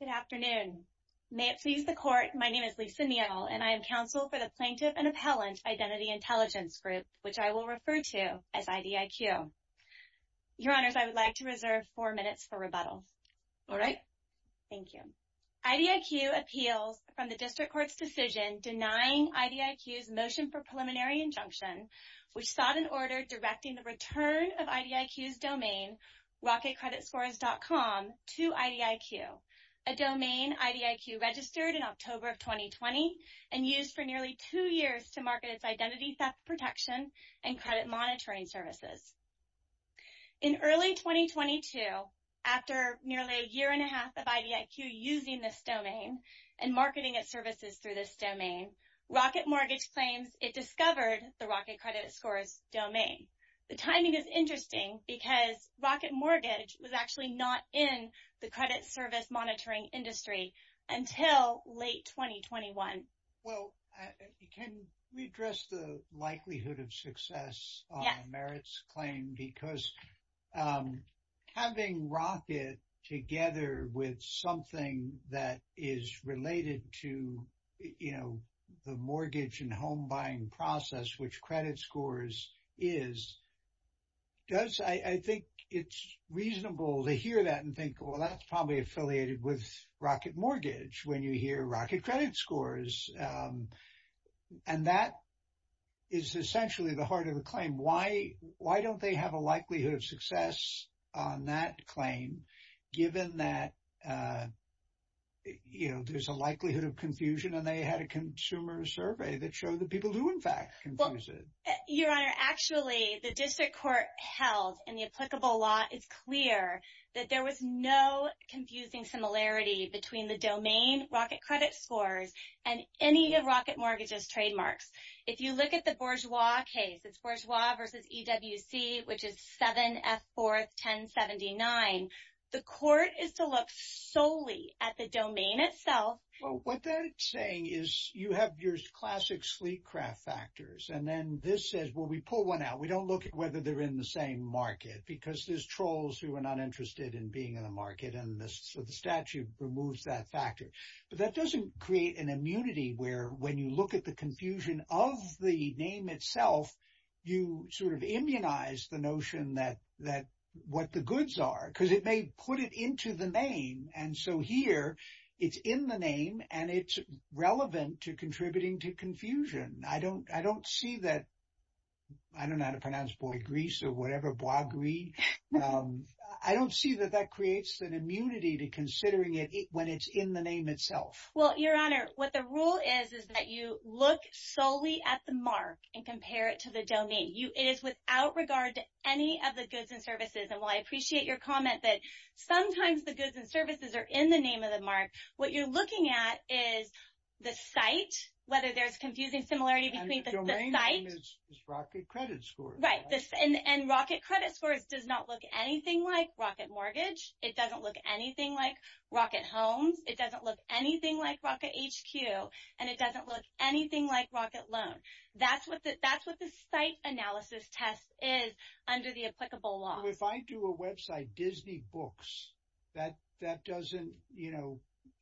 Good afternoon. May it please the Court, my name is Lisa Neal, and I am counsel for the Plaintiff and Appellant Identity Intelligence Group, which I will refer to as IDIQ. Your Honors, I would like to reserve four minutes for rebuttal. All right. Thank you. IDIQ appeals from the District Court's decision denying IDIQ's motion for preliminary injunction, which sought an order directing the return of IDIQ's domain, rocketcreditscores.com, to IDIQ, a domain IDIQ registered in October of 2020 and used for nearly two years to market its identity theft protection and credit monitoring services. In early 2022, after nearly a year and a half of IDIQ using this domain and marketing its rocketcreditscores domain, the timing is interesting because Rocket Mortgage was actually not in the credit service monitoring industry until late 2021. Well, can we address the likelihood of success on Merit's claim? Yes. Because having Rocket together with something that is related to, you know, the mortgage and home buying process, which credit scores is, does I think it's reasonable to hear that and think, well, that's probably affiliated with Rocket Mortgage, when you hear rocketcreditscores. And that is essentially the heart of the claim. Why don't they have a likelihood of success on that claim, given that, you know, there's a likelihood of confusion, and they had a consumer survey that showed that people do, in fact, confuse it. Your Honor, actually, the district court held in the applicable law, it's clear that there was no confusing similarity between the domain rocketcreditscores and any of Rocket Mortgage's trademarks. If you look at the Bourgeois case, it's Bourgeois versus EWC, which is 7F41079. The court is to look solely at the domain itself. Well, what they're saying is you have your classic sleek craft factors, and then this says, well, we pull one out. We don't look at whether they're in the same market, because there's trolls who are not interested in being in the market, and so the statute removes that factor. But that doesn't create an immunity where, when you look at the confusion of the name itself, you sort of immunize the notion that what the goods are, because it may put it into the name, and so here, it's in the name, and it's relevant to contributing to confusion. I don't see that, I don't know how to pronounce Boigris, or whatever, Boigri, I don't see that that creates an immunity to considering it when it's in the name itself. Well, Your Honor, what the rule is, is that you look solely at the mark and compare it to the domain. It is without regard to any of the goods and services, and while I appreciate your comment that sometimes the goods and services are in the name of the mark, what you're looking at is the site, whether there's confusing similarity between the site. And the domain name is Rocket Credit Scores. Right, and Rocket Credit Scores does not look anything like Rocket Mortgage. It doesn't look anything like Rocket Homes. It doesn't look anything like Rocket HQ, and it doesn't look anything like Rocket Loan. That's what the site analysis test is under the applicable law. If I do a website, Disney Books, that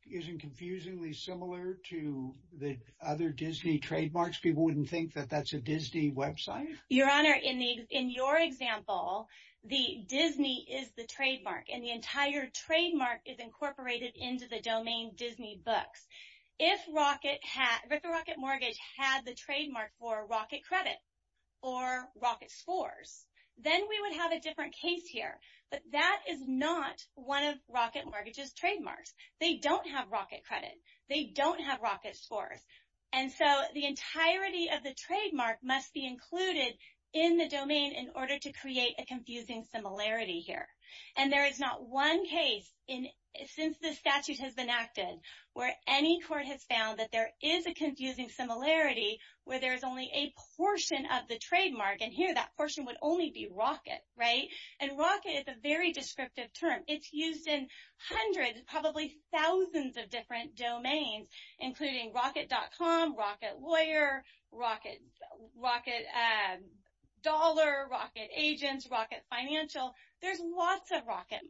isn't confusingly similar to the other Disney trademarks? People wouldn't think that that's a Disney website? Your Honor, in your example, Disney is the trademark, and the entire trademark is incorporated into the domain Disney Books. If Rocket Mortgage had the trademark for Rocket Credit or Rocket Scores, then we would have a different case here, but that is not one of Rocket Mortgage's trademarks. They don't have Rocket Credit. They don't have Rocket Scores, and so the entirety of the trademark must be included in the domain in order to create a confusing similarity here. And there is not one case since this statute has been acted where any court has found that there is a confusing similarity where there is only a portion of the trademark, and here that portion would only be Rocket, right? And Rocket is a very descriptive term. It's used in hundreds, probably thousands of different domains, including Rocket.com, Rocket Lawyer, Rocket Dollar, Rocket Agents, Rocket Financial. There's lots of Rocket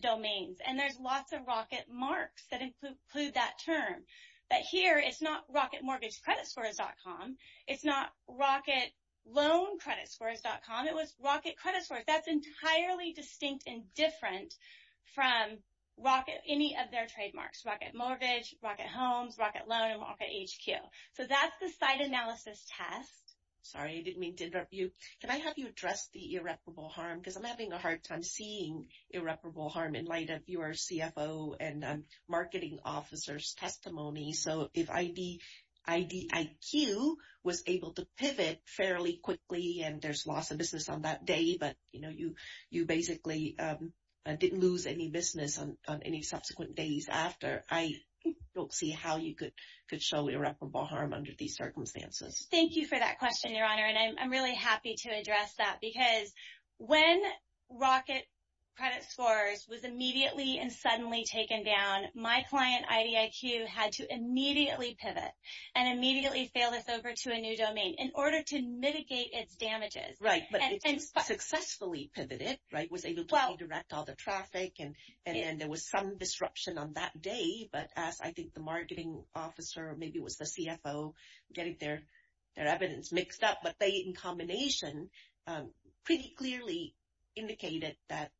domains, and there's lots of Rocket marks that include that term. But here, it's not Rocket Mortgage Credit Scores.com. It's not Rocket Loan Credit Scores.com. It was Rocket Credit Scores. That's entirely distinct and different from Rocket, any of their trademarks, Rocket Mortgage, Rocket Homes, Rocket Loan, and Rocket HQ. So that's the site analysis test. Sorry, I didn't mean to interrupt you. Can I have you address the irreparable harm? Because I'm having a hard time seeing irreparable harm in light of your CFO and marketing officer's testimony. So if IDIQ was able to pivot fairly quickly, and there's loss of business on that day, but you basically didn't lose any business on any subsequent days after, I don't see how you could show irreparable harm under these circumstances. Thank you for that question, Your Honor. And I'm really happy to address that because when Rocket Credit Scores was immediately and suddenly taken down, my client, IDIQ, had to immediately pivot and immediately fail this over to a new domain in order to mitigate its damages. Right, but it successfully pivoted, right? Was able to redirect all the traffic, and then there was some disruption on that day. But as I think the marketing officer, maybe it was the CFO, getting their evidence mixed up. But they, in combination, pretty clearly indicated that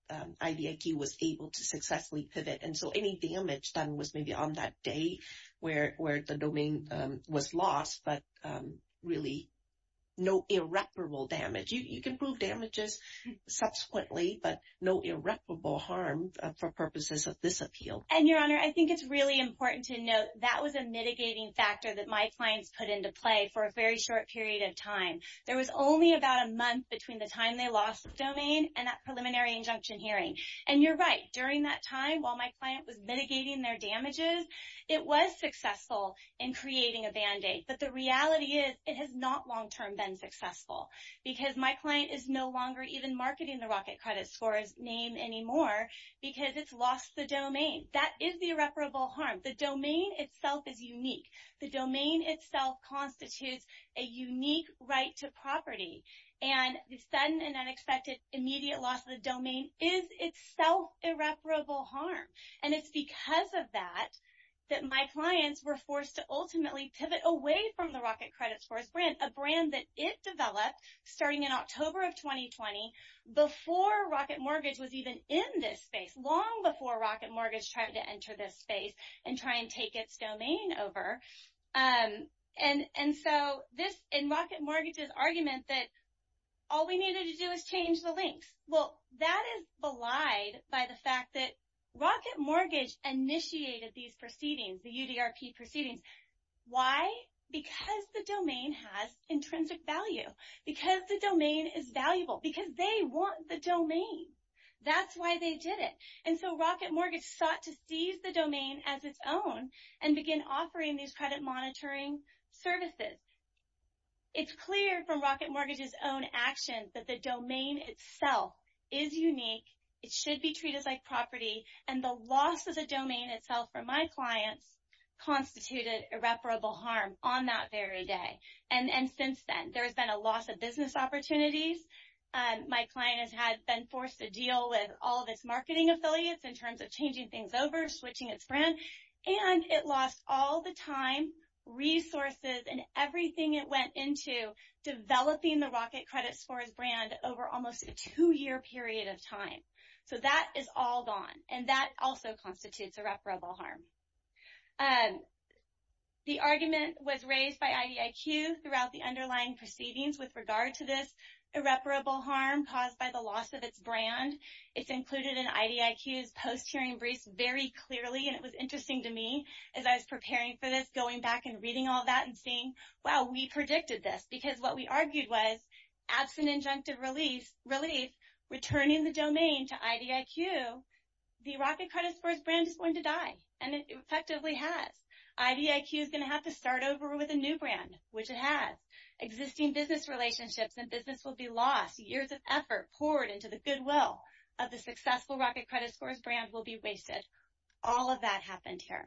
IDIQ was able to successfully pivot. And so any damage done was maybe on that day where the domain was lost, but really no irreparable damage. You can prove damages subsequently, but no irreparable harm for purposes of this appeal. And Your Honor, I think it's really important to note that was a mitigating factor that my clients put into play for a very short period of time. There was only about a month between the time they lost the domain and that preliminary injunction hearing. And you're right, during that time, while my client was mitigating their damages, it was successful in creating a band-aid. But the reality is, it has not long-term been successful because my client is no longer even marketing the Rocket Credit Scores name anymore because it's lost the domain. That is the irreparable harm. The domain itself is unique. The domain itself constitutes a unique right to property. And the sudden and unexpected immediate loss of the domain is itself irreparable harm. And it's because of that that my clients were forced to ultimately pivot away from the Rocket Credit Scores brand, a brand that it developed starting in October of 2020 before Rocket Mortgage was even in this space, long before Rocket Mortgage tried to enter this space. And so, in Rocket Mortgage's argument that all we needed to do was change the links. Well, that is belied by the fact that Rocket Mortgage initiated these proceedings, the UDRP proceedings. Why? Because the domain has intrinsic value, because the domain is valuable, because they want the domain. That's why they did it. And so, Rocket Mortgage sought to seize the domain as its own and begin offering these credit monitoring services. It's clear from Rocket Mortgage's own actions that the domain itself is unique, it should be treated like property, and the loss of the domain itself for my clients constituted irreparable harm on that very day. And since then, there has been a loss of business opportunities. My client has been forced to deal with all of its marketing affiliates in terms of changing things over, switching its brand, and it lost all the time, resources, and everything it went into developing the Rocket Credit Scores brand over almost a two-year period of time. So, that is all gone, and that also constitutes irreparable harm. The argument was raised by IDIQ throughout the underlying proceedings with regard to this irreparable harm caused by the loss of its brand. It's included in IDIQ's post-hearing briefs very clearly, and it was interesting to me as I was preparing for this, going back and reading all that and seeing, wow, we predicted this because what we argued was, absent injunctive relief, returning the domain to IDIQ, the Rocket Credit Scores brand is going to die, and it effectively has. IDIQ is going to have to start over with a new brand, which it has. Existing business relationships and business will be lost, years of effort poured into the goodwill of the successful Rocket Credit Scores brand will be wasted. All of that happened here.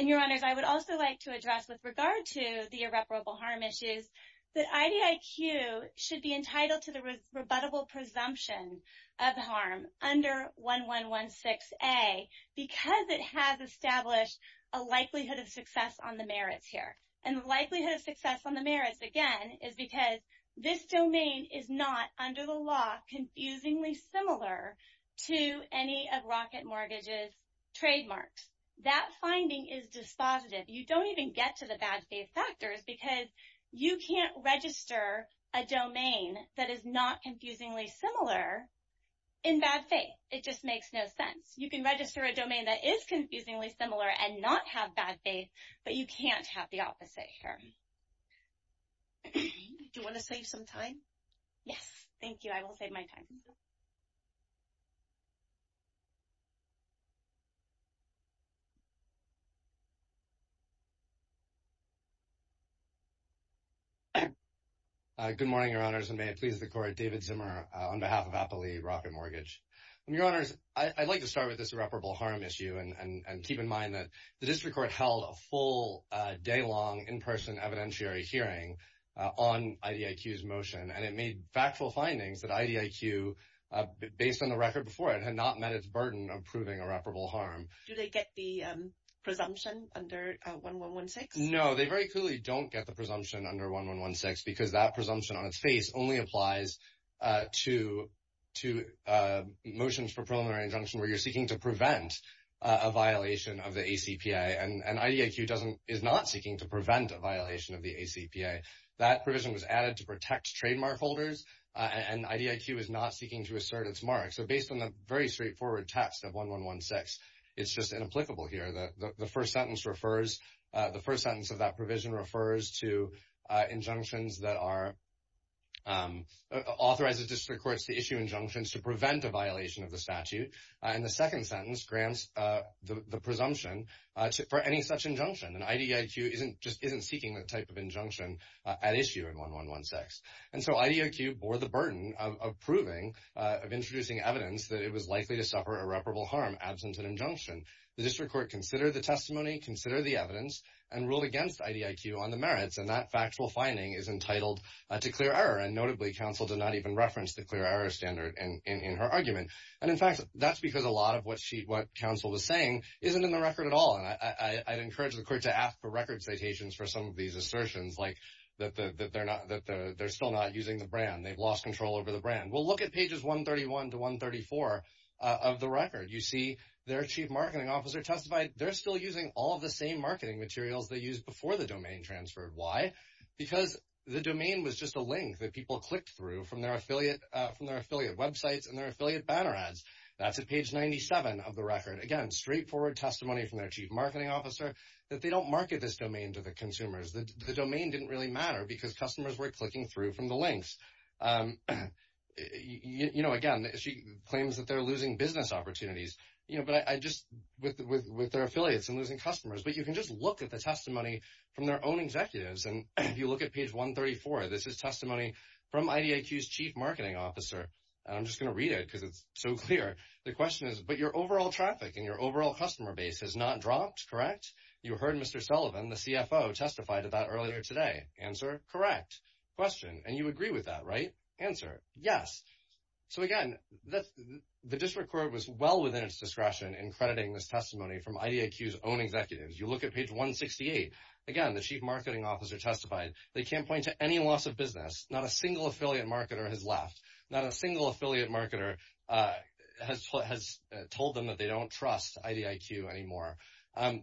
And, Your Honors, I would also like to address with regard to the irreparable harm issues that IDIQ should be entitled to the rebuttable presumption of harm under 1116A because it has established a likelihood of success on the merits here. And the likelihood of success on the merits, again, is because this domain is not, under the law, confusingly similar to any of Rocket Mortgage's trademarks. That finding is dispositive. You don't even get to the bad faith factors because you can't register a domain that is not confusingly similar in bad faith. It just makes no sense. You can register a domain that is confusingly similar and not have bad faith, but you can't have the opposite here. Do you want to save some time? Yes. Thank you. I will save my time. Good morning, Your Honors, and may it please the Court. David Zimmer on behalf of Applee Rocket Mortgage. And, Your Honors, I'd like to start with this irreparable harm issue and keep in mind that the District Court held a full, day-long, in-person evidentiary hearing on IDIQ's motion, and it made factual findings that IDIQ, based on the record before it, had not met its burden of proving irreparable harm. Do they get the presumption under 1116? No, they very clearly don't get the presumption under 1116 because that presumption on its face only applies to motions for preliminary injunction where you're seeking to prevent a violation of the ACPA. And IDIQ is not seeking to prevent a violation of the ACPA. That provision was added to protect trademark holders, and IDIQ is not seeking to assert its mark. So, based on the very straightforward text of 1116, it's just inapplicable here. The first sentence of that provision refers to injunctions that authorize the District Courts to issue injunctions to prevent a violation of the statute. And the second sentence grants the presumption for any such injunction, and IDIQ just isn't seeking that type of injunction at issue in 1116. And so, IDIQ bore the burden of proving, of introducing evidence that it was likely to suffer irreparable harm absent an injunction. The District Court considered the testimony, considered the evidence, and ruled against IDIQ on the merits, and that factual finding is entitled to clear error. And notably, counsel did not even reference the clear error standard in her argument. And in fact, that's because a lot of what she, what counsel was saying isn't in the record at all. And I'd encourage the Court to ask for record citations for some of these assertions, like that they're not, that they're still not using the brand. They've lost control over the brand. Well, look at pages 131 to 134 of the record. You see their Chief Marketing Officer testified they're still using all of the same marketing materials they used before the domain transferred. Why? Because the domain was just a link that people clicked through from their affiliate, from their affiliate banner ads. That's at page 97 of the record. Again, straightforward testimony from their Chief Marketing Officer that they don't market this domain to the consumers. The domain didn't really matter because customers were clicking through from the links. You know, again, she claims that they're losing business opportunities, you know, but I just, with their affiliates and losing customers. But you can just look at the testimony from their own executives. And if you look at page 134, this is testimony from IDIQ's Chief Marketing Officer. And I'm just going to read it because it's so clear. The question is, but your overall traffic and your overall customer base has not dropped, correct? You heard Mr. Sullivan, the CFO, testify to that earlier today. Answer? Correct. Question? And you agree with that, right? Answer? Yes. So again, the district court was well within its discretion in crediting this testimony from IDIQ's own executives. You look at page 168. Again, the Chief Marketing Officer testified they can't point to any loss of business. Not a single affiliate marketer has left. Not a single affiliate marketer has told them that they don't trust IDIQ anymore.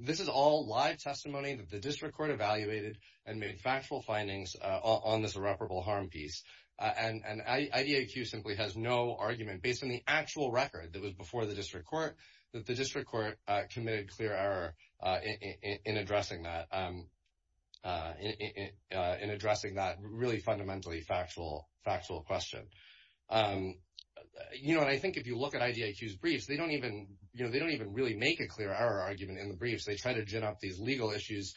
This is all live testimony that the district court evaluated and made factual findings on this irreparable harm piece. And IDIQ simply has no argument, based on the actual record that was before the district court, that the district court committed clear error in addressing that, in addressing that really fundamentally factual question. You know, and I think if you look at IDIQ's briefs, they don't even, you know, they don't even really make a clear error argument in the briefs. They try to gin up these legal issues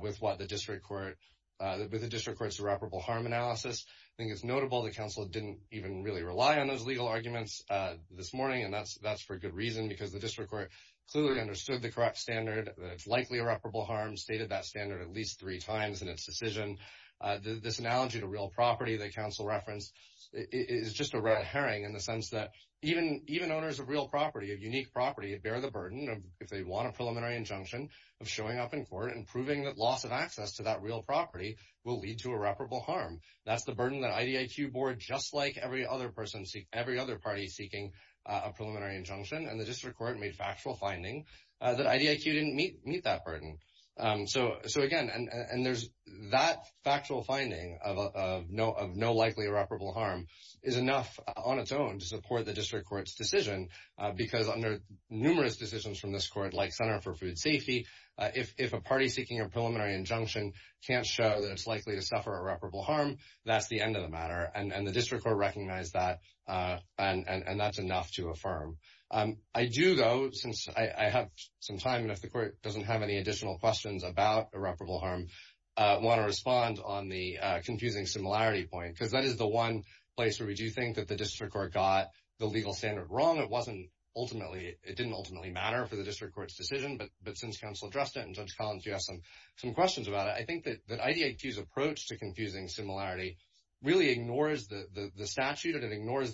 with what the district court, with the district court's irreparable harm analysis. I think it's notable the council didn't even really rely on those legal arguments this morning, and that's for good reason, because the district court clearly understood the correct standard that it's likely irreparable harm, stated that standard at least three times in its decision. This analogy to real property the council referenced is just a red herring in the sense that even owners of real property, of unique property, bear the burden, if they want a preliminary injunction, of showing up in court and proving that loss of access to that real property will lead to irreparable harm. That's the burden that IDIQ bore, just like every other person, every other party seeking a preliminary injunction. And the district court made factual finding that IDIQ didn't meet that burden. So again, and there's that factual finding of no likely irreparable harm is enough on its own to support the district court's decision, because under numerous decisions from this court, like Center for Food Safety, if a party seeking a preliminary injunction can't show that it's likely to suffer irreparable harm, that's the end of the matter, and the district court recognized that, and that's enough to affirm. I do, though, since I have some time, and if the court doesn't have any additional questions about irreparable harm, want to respond on the confusing similarity point, because that is the one place where we do think that the district court got the legal standard wrong. It wasn't ultimately, it didn't ultimately matter for the district court's decision, but since counsel addressed it, and Judge Collins, you have some questions about it, I think that IDIQ's approach to confusing similarity really ignores the statute, and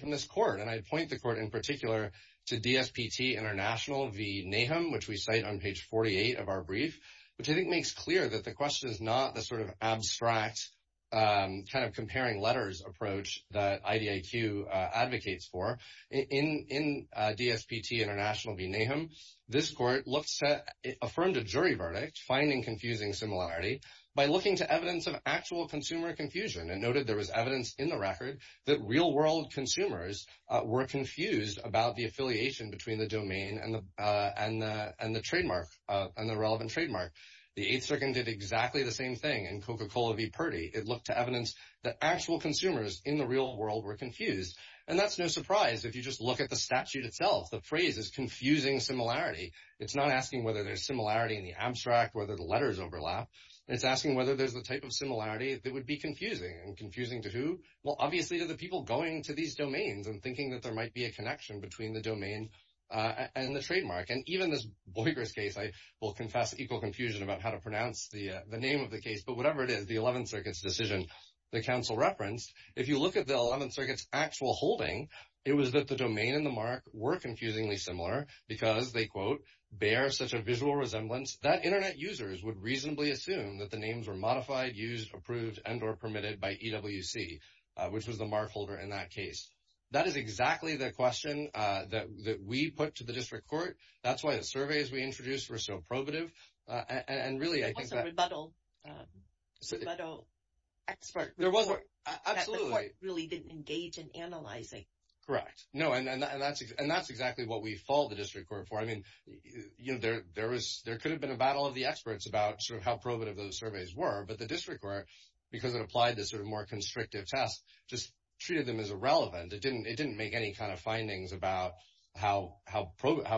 from this court, and I point the court in particular to DSPT International v. Nahum, which we cite on page 48 of our brief, which I think makes clear that the question is not the sort of abstract kind of comparing letters approach that IDIQ advocates for. In DSPT International v. Nahum, this court looked to, affirmed a jury verdict, finding confusing similarity by looking to evidence of actual consumer confusion, and noted there was evidence in the record that real world consumers were confused about the affiliation between the domain and the trademark, and the relevant trademark. The 8th Circuit did exactly the same thing in Coca-Cola v. Purdy. It looked to evidence that actual consumers in the real world were confused, and that's no surprise if you just look at the statute itself. The phrase is confusing similarity. It's not asking whether there's similarity in the abstract, whether the letters overlap. It's asking whether there's the type of similarity that would be confusing, and confusing to who? Well, obviously to the people going to these domains and thinking that there might be a connection between the domain and the trademark. And even this boigrass case, I will confess equal confusion about how to pronounce the name of the case, but whatever it is, the 11th Circuit's decision, the counsel referenced, if you look at the 11th Circuit's actual holding, it was that the domain and the mark were confusingly similar because they, quote, bear such a visual resemblance that internet users would reasonably assume that the names were modified, used, approved, and or permitted by EWC, which was the mark holder in that case. That is exactly the question that we put to the District Court. That's why the surveys we introduced were so probative, and really, I think that— There was a rebuttal expert report that the court really didn't engage in analyzing. Correct. No, and that's exactly what we fault the District Court for. I mean, you know, there could have been a battle of the experts about sort of how probative those surveys were, but the District Court, because it applied this sort of more constrictive test, just treated them as irrelevant. It didn't make any kind of findings about how valid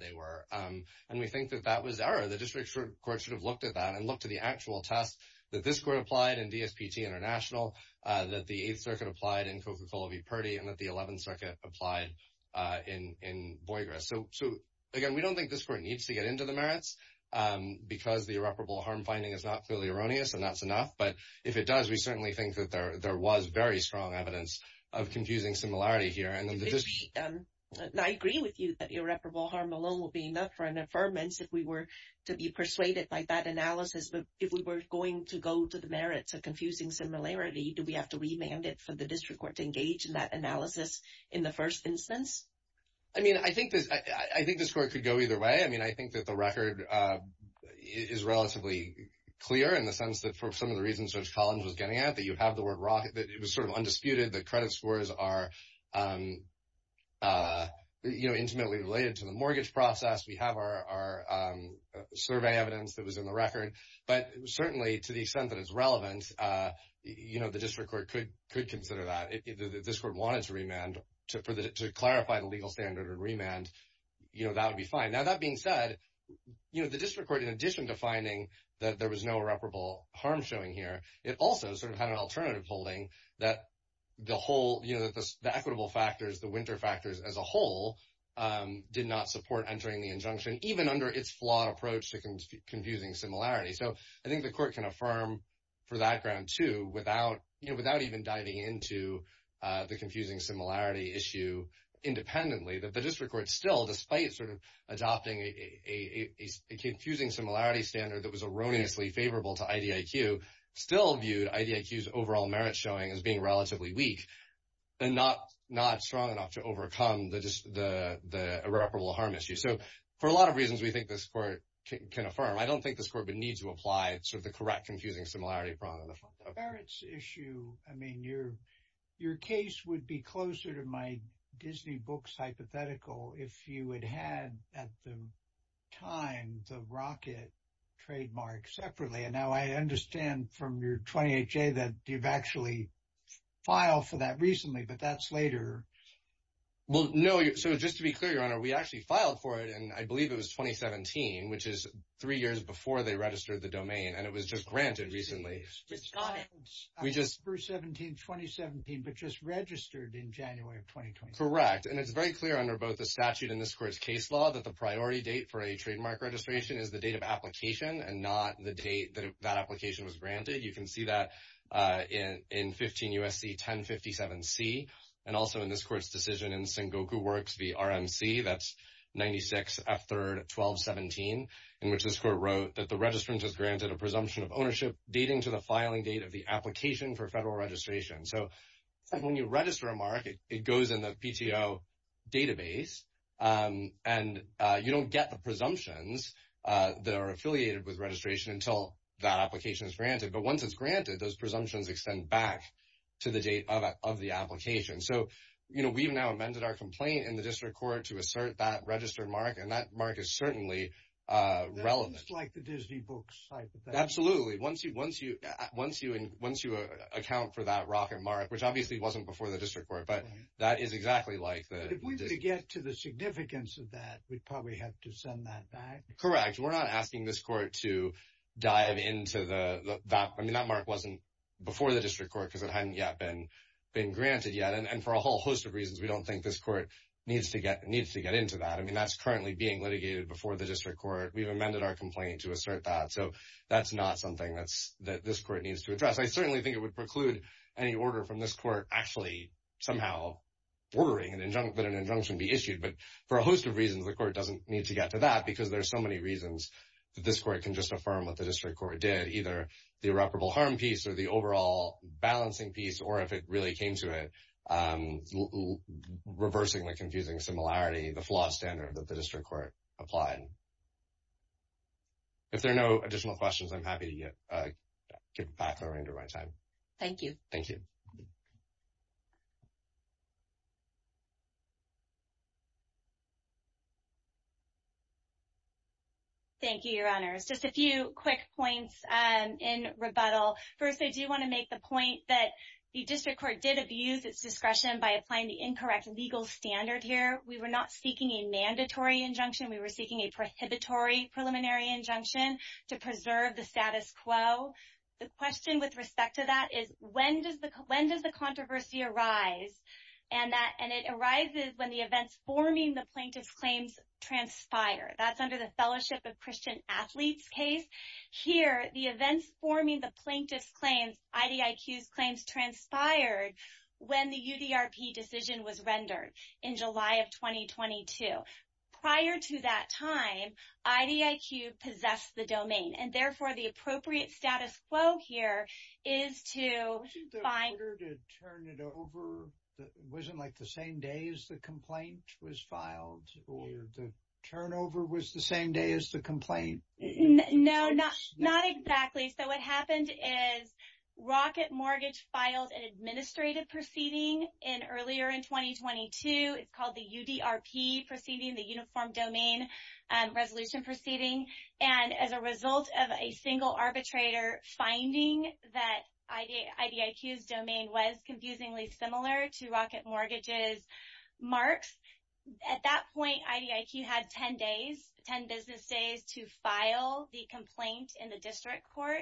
they were, and we think that that was error. The District Court should have looked at that and looked at the actual test that this court applied in DSPT International, that the 8th Circuit applied in Coca-Cola v. Purdy, and that the 11th Circuit applied in boigrass. So, again, we don't think this court needs to get into the merits, because the irreparable harm finding is not clearly erroneous, and that's enough. But if it does, we certainly think that there was very strong evidence of confusing similarity here. I agree with you that irreparable harm alone will be enough for an affirmance if we were to be persuaded by that analysis. But if we were going to go to the merits of confusing similarity, do we have to remand it for the District Court to engage in that analysis in the first instance? I mean, I think this court could go either way. I mean, I think that the record is relatively clear in the sense that for some of the reasons Judge Collins was getting at, that you have the word raw, that it was sort of undisputed, the credit scores are, you know, intimately related to the mortgage process. We have our survey evidence that was in the record. But certainly, to the extent that it's relevant, you know, the District Court could consider that if this court wanted to remand to clarify the legal standard and remand, you know, that would be fine. Now, that being said, you know, the District Court, in addition to finding that there was no irreparable harm showing here, it also sort of had an alternative holding that the whole, you know, the equitable factors, the winter factors as a whole did not support entering the injunction, even under its flawed approach to confusing similarity. So, I think the court can affirm for that ground, too, without, you know, without even diving into the confusing similarity issue independently, that the District Court still, despite sort of adopting a confusing similarity standard that was erroneously favorable to IDIQ, still viewed IDIQ's overall merit showing as being relatively weak and not strong enough to overcome the irreparable harm issue. So, for a lot of reasons, we think this court can affirm. I don't think this court would need to apply sort of the correct confusing similarity problem. The merits issue, I mean, your case would be closer to my Disney books hypothetical if you had had at the time the rocket trademark separately. And now, I understand from your 28-J that you've actually filed for that recently, but that's later. Well, no. So, just to be clear, Your Honor, we actually filed for it, and I believe it was 2017, which is three years before they registered the domain. And it was just granted recently. Just got it. We just... October 17, 2017, but just registered in January of 2020. Correct. And it's very clear under both the statute and this court's case law that the priority date for a trademark registration is the date of application and not the date that that application was granted. You can see that in 15 U.S.C. 1057C and also in this court's decision in Sengoku Works v. RMC. That's 96F3RD 1217, in which this court wrote that the registrant has granted a presumption of ownership dating to the filing date of the application for federal registration. So, when you register a mark, it goes in the PTO database, and you don't get the presumptions that are affiliated with registration until that application is granted. But once it's granted, those presumptions extend back to the date of the application. So, we've now amended our complaint in the district court to assert that registered mark, and that mark is certainly relevant. It's like the Disney books type of thing. Absolutely. Once you account for that rocket mark, which obviously wasn't before the district court, but that is exactly like the... If we were to get to the significance of that, we'd probably have to send that back. Correct. We're not asking this court to dive into the... I mean, that mark wasn't before the district court because it hadn't yet been granted yet. And for a whole host of reasons, we don't think this court needs to get into that. I mean, that's currently being litigated before the district court. We've amended our complaint to assert that. So, that's not something that this court needs to address. I certainly think it would preclude any order from this court actually somehow ordering that an injunction be issued. But for a host of reasons, the court doesn't need to get to that because there's so many reasons that this court can just affirm what the district court did. Either the irreparable harm piece or the overall balancing piece, or if it really came to it, reversing the confusing similarity, the flawed standard that the district court applied. If there are no additional questions, I'm happy to get back to Lorraine during my time. Thank you. Thank you. Thank you, Your Honors. Just a few quick points in rebuttal. First, I do want to make the point that the district court did abuse its discretion by applying the incorrect legal standard here. We were not seeking a mandatory injunction. We were seeking a prohibitory preliminary injunction to preserve the status quo. The question with respect to that is, when does the controversy arise? And it arises when the events forming the plaintiff's claims transpire. That's under the Fellowship of Christian Athletes case. Here, the events forming the plaintiff's claims, IDIQ's claims, transpired when the UDRP decision was rendered in July of 2022. Prior to that time, IDIQ possessed the domain. And therefore, the appropriate status quo here is to find- Wasn't the order to turn it over, wasn't like the same day as the complaint was filed? Or the turnover was the same day as the complaint? No, not exactly. So what happened is Rocket Mortgage filed an administrative proceeding in earlier in 2022. It's called the UDRP proceeding, the Uniform Domain Resolution proceeding. And as a result of a single arbitrator finding that IDIQ's domain was confusingly similar to the complaint in the district court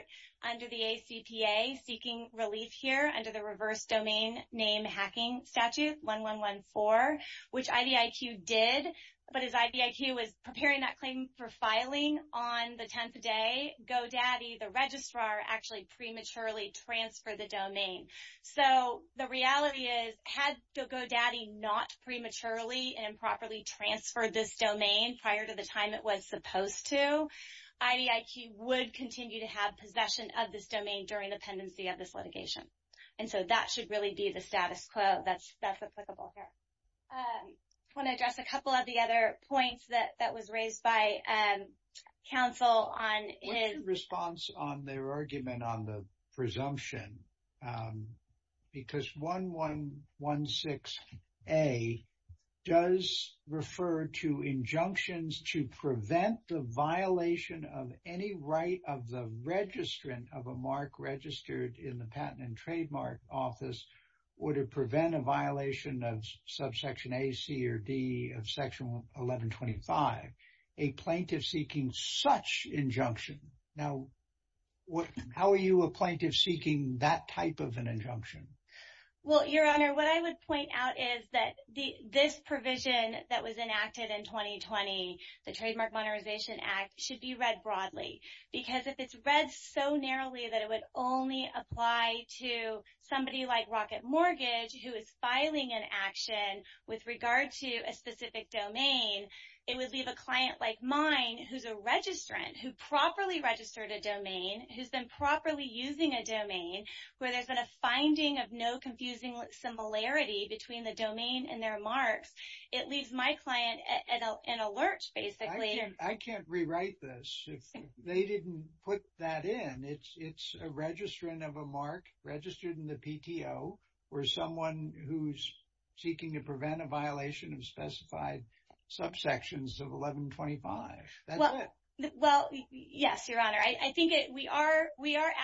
under the ACPA seeking relief here under the Reverse Domain Name Hacking Statute 1114, which IDIQ did. But as IDIQ was preparing that claim for filing on the 10th day, GoDaddy, the registrar, actually prematurely transferred the domain. So the reality is, had GoDaddy not prematurely and improperly transferred this domain prior to the time it was supposed to, IDIQ would continue to have possession of this domain during the pendency of this litigation. And so that should really be the status quo that's applicable here. I want to address a couple of the other points that was raised by counsel on his- What's your response on their argument on the presumption? Because 1116A does refer to injunctions to prevent the violation of any right of the registrant of a mark registered in the Patent and Trademark Office, or to prevent a violation of subsection A, C, or D of section 1125. A plaintiff seeking such injunction. Now, how are you a plaintiff seeking that type of an injunction? Well, Your Honor, what I would point out is that this provision that was enacted in 2020, the Trademark Monetarization Act, should be read broadly. Because if it's read so narrowly that it would only apply to somebody like Rocket Mortgage, who is filing an action with regard to a specific domain, it would leave a client like mine, who's a registrant, who properly registered a domain, who's been properly using a domain, where there's been a finding of no confusing similarity between the domain and their marks, it leaves my client an alert, basically. I can't rewrite this. They didn't put that in. It's a registrant of a mark registered in the PTO, or someone who's seeking to prevent a violation of specified subsections of 1125. That's it. Well, yes, Your Honor. I think we are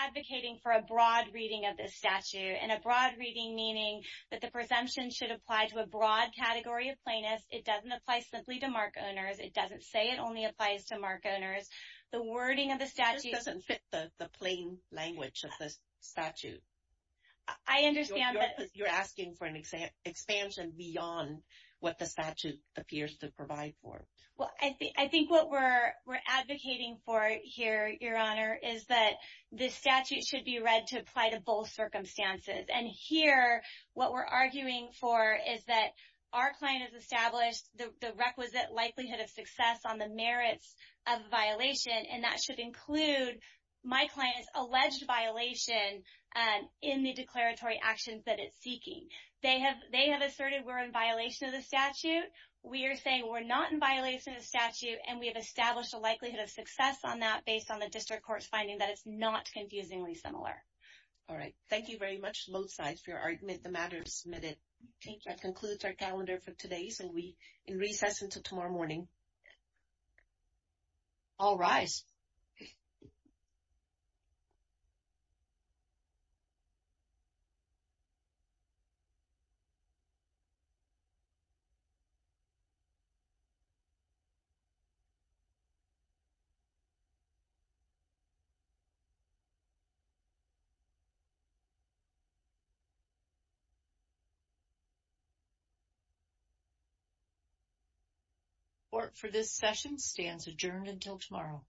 advocating for a broad reading of this statute, and a broad reading meaning that the presumption should apply to a broad category of plaintiffs. It doesn't apply simply to mark owners. It doesn't say it only applies to mark owners. The wording of the statute... This doesn't fit the plain language of the statute. I understand that... You're asking for an expansion beyond what the statute appears to provide for. Well, I think what we're advocating for here, Your Honor, is that the statute should be read to apply to both circumstances. And here, what we're arguing for is that our client has established the requisite likelihood of success on the merits of a violation, and that should include my client's alleged violation in the declaratory actions that it's seeking. They have asserted we're in violation of the statute. We are saying we're not in violation of the statute, and we have established a likelihood of success on that based on the district court's finding that it's not confusingly similar. All right. Thank you very much, both sides, for your argument. The matter is submitted. Okay. That concludes our calendar for today. So, in recess until tomorrow morning, all rise. Thank you. Court for this session stands adjourned until tomorrow.